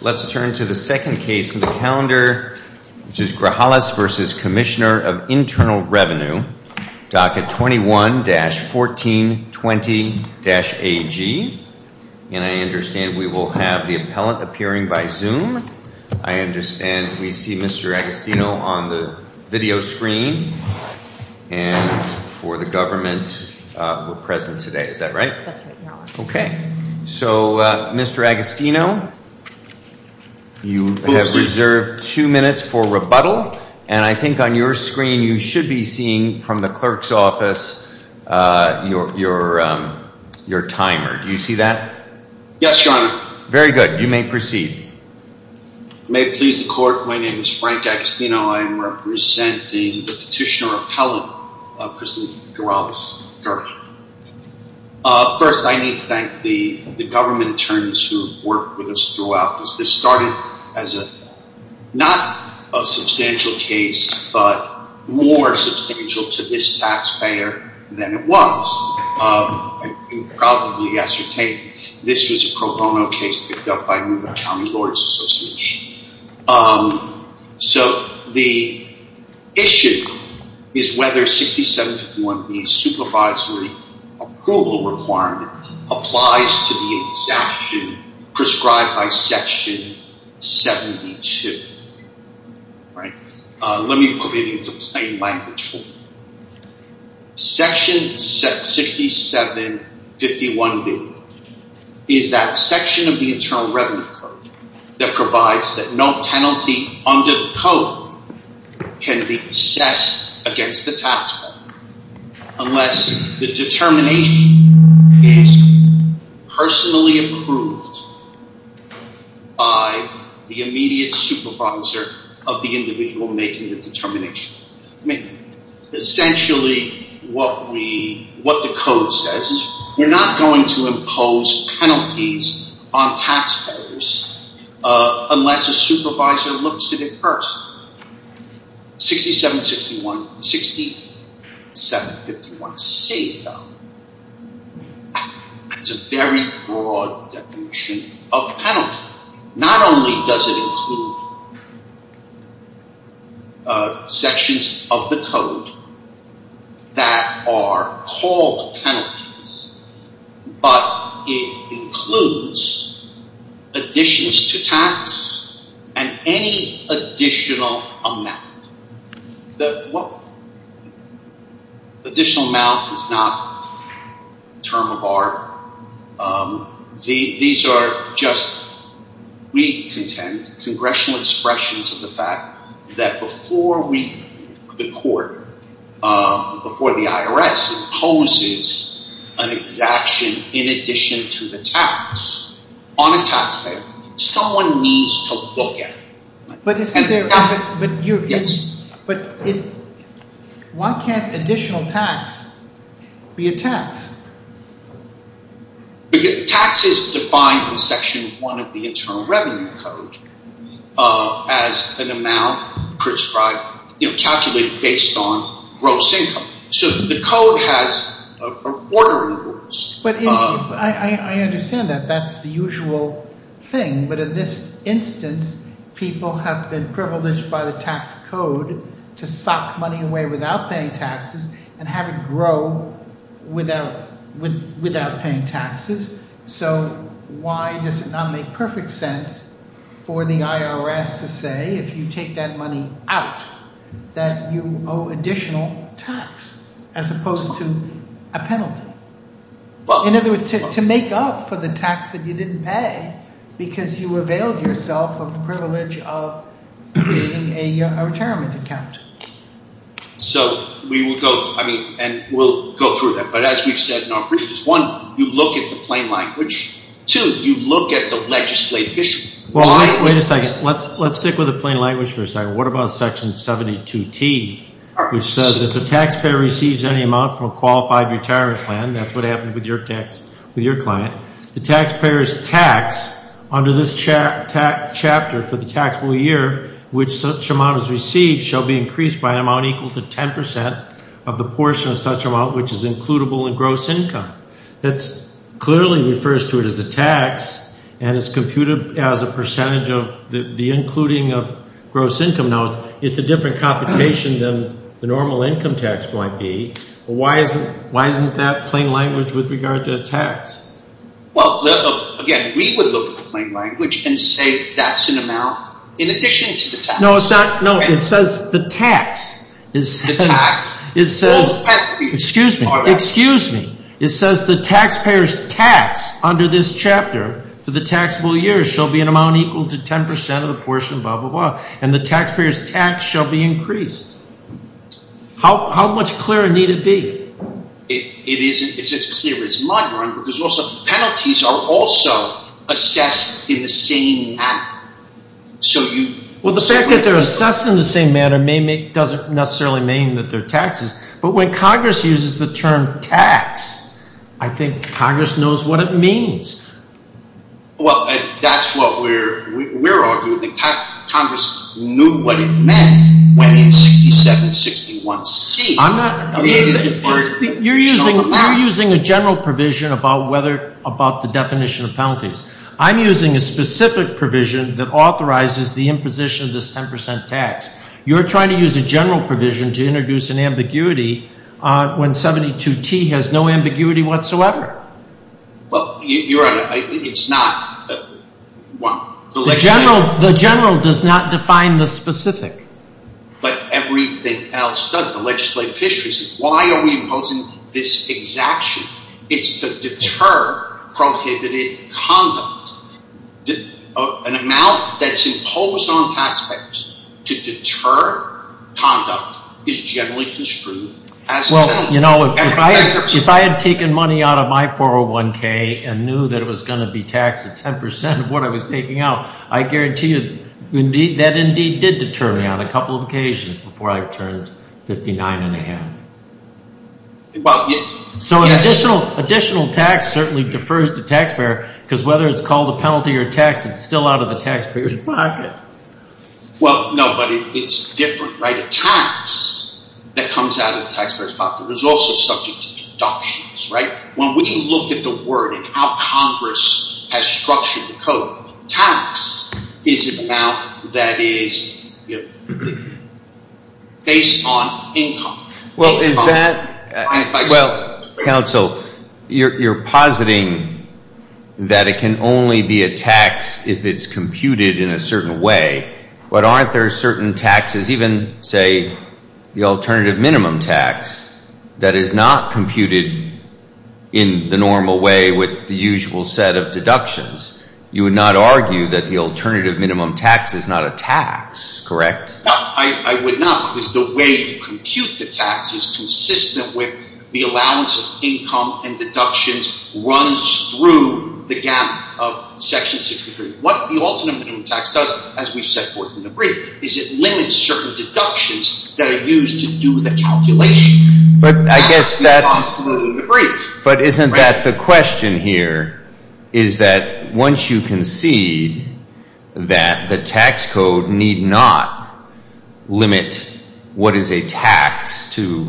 Let's turn to the second case in the calendar, which is Grajales v. Commissioner of Internal Revenue. Docket 21-1420-AG. And I understand we will have the appellant appearing by Zoom. I understand we see Mr. Agostino on the video screen. And for the government, we're present today. Is that right? Okay. So, Mr. Agostino, you have reserved two minutes for rebuttal. And I think on your screen you should be seeing from the clerk's office your timer. Do you see that? Yes, Your Honor. Very good. You may proceed. May it please the court, my name is Frank Agostino. I am representing the petitioner-appellant, Mr. Grajales. First, I need to thank the government attorneys who have worked with us throughout this. This started as not a substantial case, but more substantial to this taxpayer than it was. I can probably ascertain that this was a pro bono case picked up by the Nevada County Lawyers Association. So, the issue is whether 6751B's supervisory approval requirement applies to the exaction prescribed by Section 72. Let me put it into plain language for you. Section 6751B is that section of the Internal Revenue Code that provides that no penalty under the code can be assessed against the taxpayer unless the determination is personally approved by the immediate supervisor of the individual making the determination. Essentially, what the code says is we're not going to impose penalties on taxpayers unless a supervisor looks at it personally. 6761, 6751C, though, is a very broad definition of penalty. Not only does it include sections of the code that are called penalties, but it includes additions to tax and any additional amount. Additional amount is not a term of art. These are just, we contend, congressional expressions of the fact that before the court, before the IRS, imposes an exaction in addition to the tax on a taxpayer, someone needs to look at it. But why can't additional tax be a tax? Tax is defined in Section 1 of the Internal Revenue Code as an amount calculated based on gross income. So, the code has order rules. I understand that. That's the usual thing. But in this instance, people have been privileged by the tax code to sock money away without paying taxes and have it grow without paying taxes. So, why does it not make perfect sense for the IRS to say if you take that money out that you owe additional tax as opposed to a penalty? In other words, to make up for the tax that you didn't pay because you availed yourself of the privilege of creating a retirement account. So, we will go, I mean, and we'll go through that. But as we've said in our briefs, one, you look at the plain language. Two, you look at the legislative issue. Well, wait a second. Let's stick with the plain language for a second. What about Section 72T, which says if the taxpayer receives any amount from a qualified retirement plan, that's what happened with your tax, with your client, the taxpayer's tax under this chapter for the taxable year, which such amount is received, shall be increased by an amount equal to 10% of the portion of such amount which is includable in gross income. That clearly refers to it as a tax, and it's computed as a percentage of the including of gross income. Now, it's a different computation than the normal income tax might be. Why isn't that plain language with regard to a tax? Well, again, we would look at the plain language and say that's an amount in addition to the tax. No, it's not. No, it says the tax. The tax. It says… It says the taxpayer's tax under this chapter for the taxable year shall be an amount equal to 10% of the portion blah, blah, blah, and the taxpayer's tax shall be increased. How much clearer need it be? It's as clear as mud, Ron, because also penalties are also assessed in the same manner. Well, the fact that they're assessed in the same manner doesn't necessarily mean that they're taxes. But when Congress uses the term tax, I think Congress knows what it means. Well, that's what we're arguing. Congress knew what it meant when it's 6761C. I'm not… You're using a general provision about the definition of penalties. I'm using a specific provision that authorizes the imposition of this 10% tax. You're trying to use a general provision to introduce an ambiguity when 72T has no ambiguity whatsoever. Well, you're right. It's not. The general does not define the specific. But everything else does. The legislative history says why are we imposing this exaction? It's to deter prohibited conduct. An amount that's imposed on taxpayers to deter conduct is generally construed as a penalty. Well, you know, if I had taken money out of my 401K and knew that it was going to be taxed at 10% of what I was taking out, I guarantee you that indeed did deter me on a couple of occasions before I turned 59½. So an additional tax certainly defers the taxpayer because whether it's called a penalty or a tax, it's still out of the taxpayer's pocket. Well, no, but it's different, right? A tax that comes out of the taxpayer's pocket is also subject to deductions, right? When we look at the word and how Congress has structured the code, tax is an amount that is based on income. Well, counsel, you're positing that it can only be a tax if it's computed in a certain way. But aren't there certain taxes, even, say, the alternative minimum tax, that is not computed in the normal way with the usual set of deductions? You would not argue that the alternative minimum tax is not a tax, correct? No, I would not because the way you compute the tax is consistent with the allowance of income and deductions runs through the gap of Section 63. What the alternative minimum tax does, as we've said before in the brief, is it limits certain deductions that are used to do the calculation. But isn't that the question here is that once you concede that the tax code need not limit what is a tax to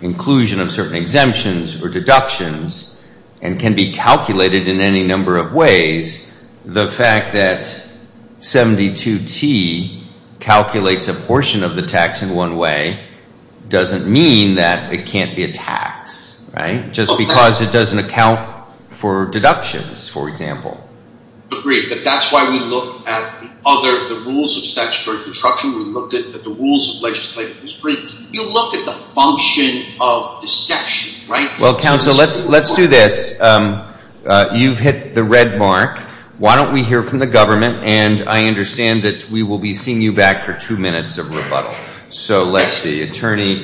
inclusion of certain exemptions or deductions and can be calculated in any number of ways, the fact that 72T calculates a portion of the tax in one way doesn't mean that it can't be a tax, right? Just because it doesn't account for deductions, for example. Agreed, but that's why we looked at the rules of statutory construction. We looked at the rules of legislative history. You look at the function of the section, right? Well, counsel, let's do this. You've hit the red mark. Why don't we hear from the government and I understand that we will be seeing you back for two minutes of rebuttal. So, let's see. Attorney,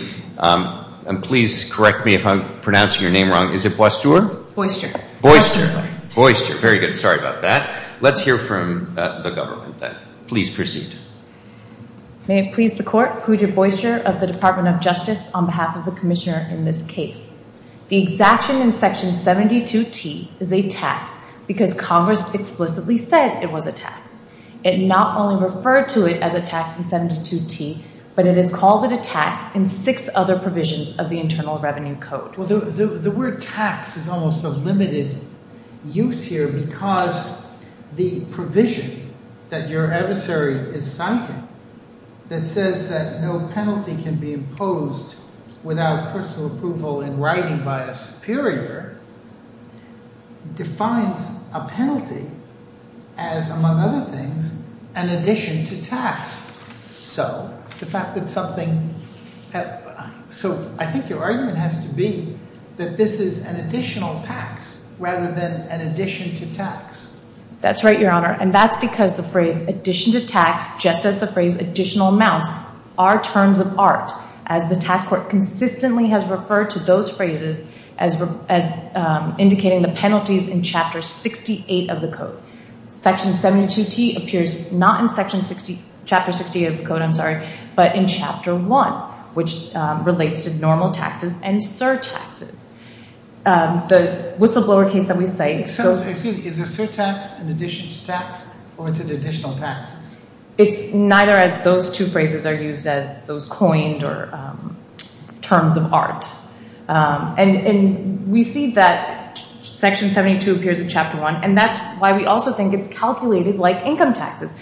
please correct me if I'm pronouncing your name wrong. Is it Boisture? Boisture. Boisture. Very good. Sorry about that. Let's hear from the government then. Please proceed. May it please the court. Pooja Boisture of the Department of Justice on behalf of the commissioner in this case. The exaction in section 72T is a tax because Congress explicitly said it was a tax. It not only referred to it as a tax in 72T, but it is called a tax in six other provisions of the Internal Revenue Code. Well, the word tax is almost a limited use here because the provision that your adversary is citing that says that no penalty can be imposed without personal approval in writing by a superior defines a penalty as, among other things, an addition to tax. So, I think your argument has to be that this is an additional tax rather than an addition to tax. That's right, Your Honor. And that's because the phrase addition to tax, just as the phrase additional amounts, are terms of art as the task force consistently has referred to those phrases as indicating the penalties in chapter 68 of the code. Section 72T appears not in chapter 68 of the code, I'm sorry, but in chapter 1, which relates to normal taxes and surtaxes. The whistleblower case that we cite... Excuse me. Is a surtax an addition to tax or is it additional taxes? It's neither as those two phrases are used as those coined or terms of art. And we see that section 72 appears in chapter 1 and that's why we also think it's calculated like income taxes.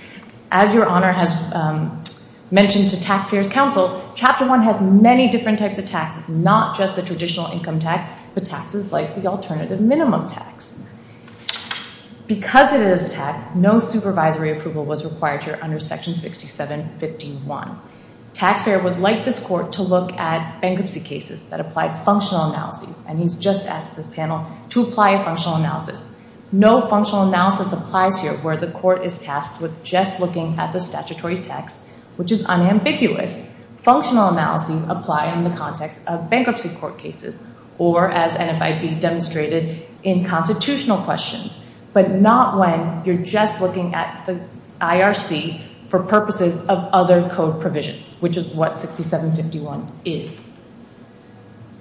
As Your Honor has mentioned to taxpayers' counsel, chapter 1 has many different types of taxes, not just the traditional income tax, but taxes like the alternative minimum tax. Because it is taxed, no supervisory approval was required here under section 6751. Taxpayer would like this court to look at bankruptcy cases that applied functional analysis and he's just asked this panel to apply a functional analysis. No functional analysis applies here where the court is tasked with just looking at the statutory tax, which is unambiguous. Functional analysis apply in the context of bankruptcy court cases or as NFIB demonstrated in constitutional questions, but not when you're just looking at the IRC for purposes of other code provisions, which is what 6751 is.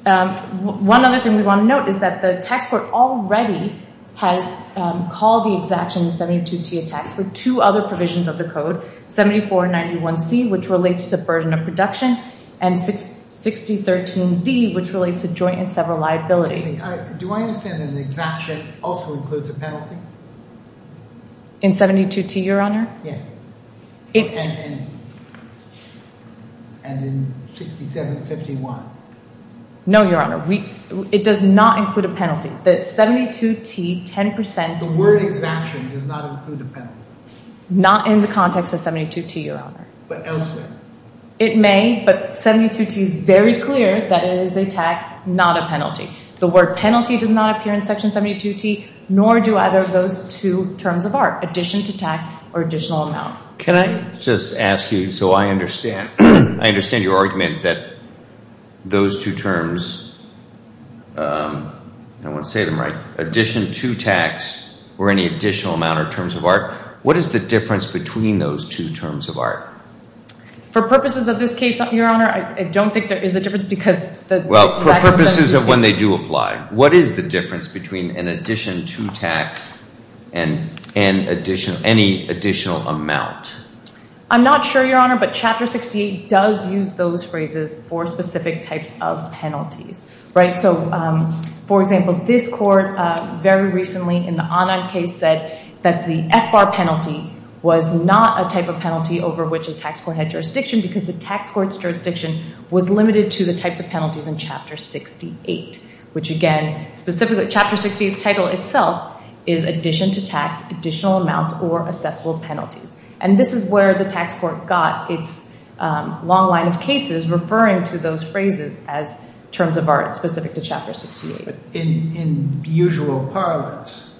One other thing we want to note is that the tax court already has called the exaction in 72T a tax for two other provisions of the code, 7491C, which relates to burden of production and 6013D, which relates to joint and several liability. Do I understand that the exaction also includes a penalty? In 72T, Your Honor? Yes. And in 6751? No, Your Honor. It does not include a penalty. The 72T, 10%— The word exaction does not include a penalty? Not in the context of 72T, Your Honor. But elsewhere? It may, but 72T is very clear that it is a tax, not a penalty. The word penalty does not appear in Section 72T, nor do either of those two terms of art, addition to tax or additional amount. Can I just ask you, so I understand your argument that those two terms—I don't want to say them right—addition to tax or any additional amount or terms of art, what is the difference between those two terms of art? For purposes of this case, Your Honor, I don't think there is a difference because the— Well, for purposes of when they do apply, what is the difference between an addition to tax and any additional amount? I'm not sure, Your Honor, but Chapter 68 does use those phrases for specific types of penalties. So, for example, this court very recently in the Anand case said that the FBAR penalty was not a type of penalty over which a tax court had jurisdiction because the tax court's jurisdiction was limited to the types of penalties in Chapter 68, which again, specifically, Chapter 68's title itself is addition to tax, additional amount, or assessable penalties. And this is where the tax court got its long line of cases referring to those phrases as terms of art specific to Chapter 68. But in usual parlance,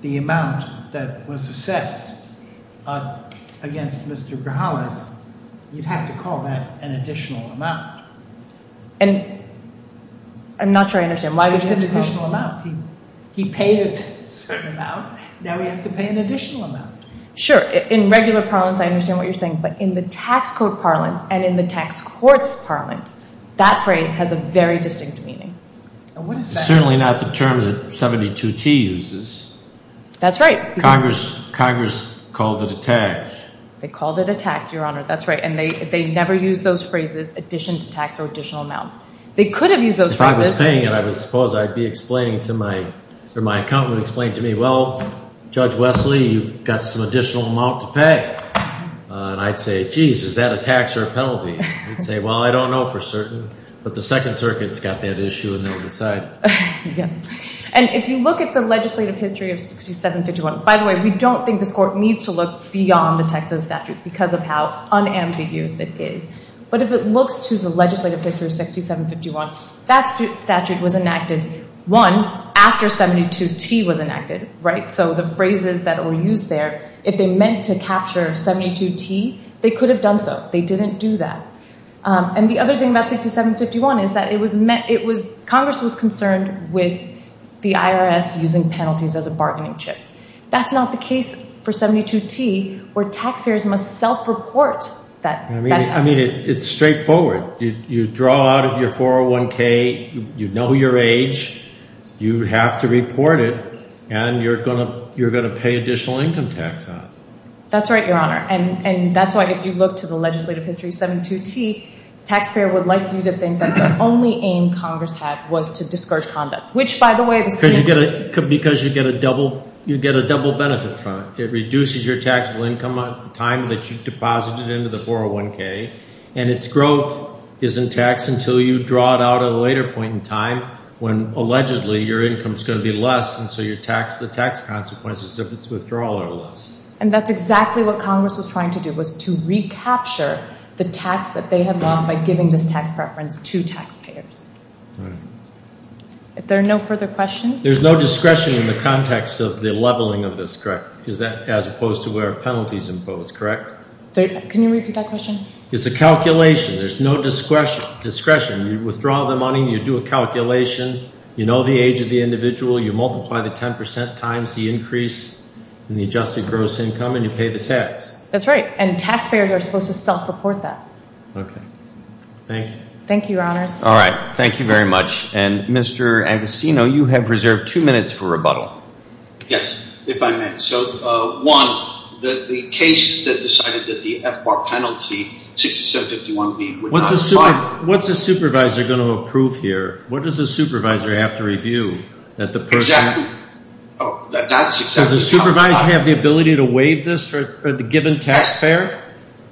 the amount that was assessed against Mr. Grijalva, you'd have to call that an additional amount. And I'm not sure I understand why— It's an additional amount. He paid a certain amount. Now he has to pay an additional amount. Sure. In regular parlance, I understand what you're saying. But in the tax court parlance and in the tax court's parlance, that phrase has a very distinct meaning. It's certainly not the term that 72T uses. That's right. Congress called it a tax. They called it a tax, Your Honor. That's right. And they never used those phrases addition to tax or additional amount. They could have used those phrases— And I'd say, geez, is that a tax or a penalty? They'd say, well, I don't know for certain. But the Second Circuit's got that issue, and they'll decide. Yes. And if you look at the legislative history of 6751—by the way, we don't think this court needs to look beyond the Texas statute because of how unambiguous it is. But if it looks to the legislative history of 6751, that statute was enacted, one, after 72T was enacted, right? So the phrases that were used there, if they meant to capture 72T, they could have done so. They didn't do that. And the other thing about 6751 is that it was—Congress was concerned with the IRS using penalties as a bargaining chip. That's not the case for 72T, where taxpayers must self-report that tax. I mean, it's straightforward. You draw out of your 401K, you know your age, you have to report it, and you're going to pay additional income tax on it. That's right, Your Honor. And that's why, if you look to the legislative history of 72T, the taxpayer would like you to think that the only aim Congress had was to discourage conduct, which, by the way— Because you get a double benefit from it. It reduces your taxable income at the time that you deposit it into the 401K, and its growth is in tax until you draw it out at a later point in time when, allegedly, your income is going to be less, and so you tax the tax consequences of its withdrawal or less. And that's exactly what Congress was trying to do, was to recapture the tax that they had lost by giving this tax preference to taxpayers. All right. If there are no further questions— There's no discretion in the context of the leveling of this, correct? Is that as opposed to where a penalty is imposed, correct? Can you repeat that question? It's a calculation. There's no discretion. You withdraw the money, you do a calculation, you know the age of the individual, you multiply the 10 percent times the increase in the adjusted gross income, and you pay the tax. That's right. And taxpayers are supposed to self-report that. Okay. Thank you. Thank you, Your Honors. All right. Thank you very much. And, Mr. Agostino, you have reserved two minutes for rebuttal. Yes, if I may. So, one, the case that decided that the FBAR penalty, 6751B, would not apply— What's a supervisor going to approve here? What does a supervisor have to review? Exactly. Does the supervisor have the ability to waive this for the given taxpayer?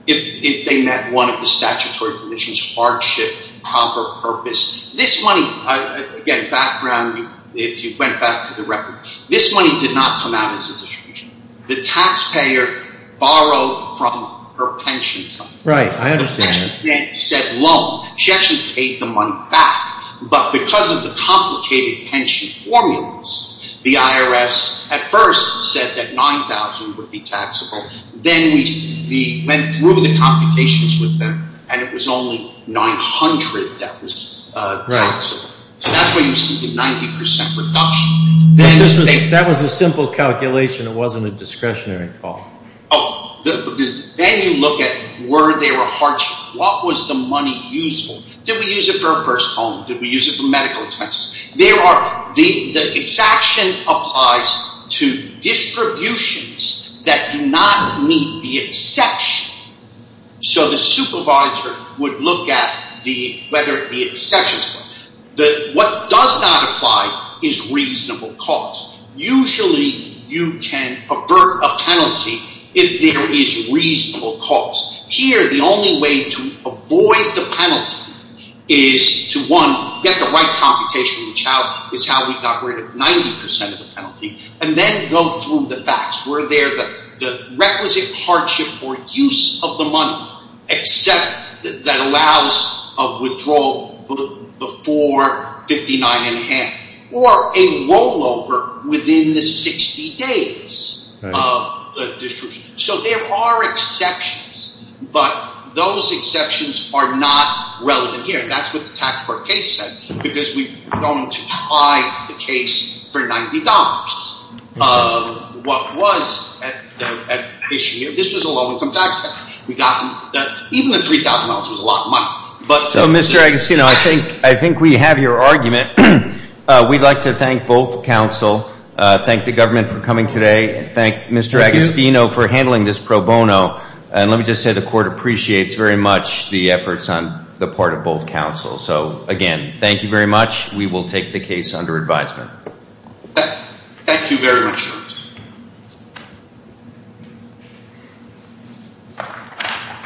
If they met one of the statutory conditions, hardship, proper purpose. This money—again, background, if you went back to the record—this money did not come out as a distribution. The taxpayer borrowed from her pension fund. Right. I understand that. The pension grant said loan. She actually paid the money back. But because of the complicated pension formulas, the IRS at first said that 9,000 would be taxable. Then we went through the computations with them, and it was only 900 that was taxable. Right. So that's why you see the 90% reduction. That was a simple calculation. It wasn't a discretionary call. Oh, because then you look at were there a hardship. What was the money useful? Did we use it for a first home? Did we use it for medical expenses? The exaction applies to distributions that do not meet the exception. So the supervisor would look at whether the exception is met. What does not apply is reasonable cost. Usually you can avert a penalty if there is reasonable cost. Here, the only way to avoid the penalty is to get the right computation, which is how we got rid of 90% of the penalty, and then go through the facts. Were there the requisite hardship for use of the money that allows a withdrawal before 59 and a half, or a rollover within the 60 days of the distribution? So there are exceptions, but those exceptions are not relevant here. That's what the tax court case said, because we don't apply the case for $90. What was at issue here, this was a low-income taxpayer. Even the $3,000 was a lot of money. So, Mr. Agostino, I think we have your argument. We'd like to thank both counsel, thank the government for coming today, and thank Mr. Agostino for handling this pro bono, and let me just say the court appreciates very much the efforts on the part of both counsel. So, again, thank you very much. We will take the case under advisement. Thank you very much.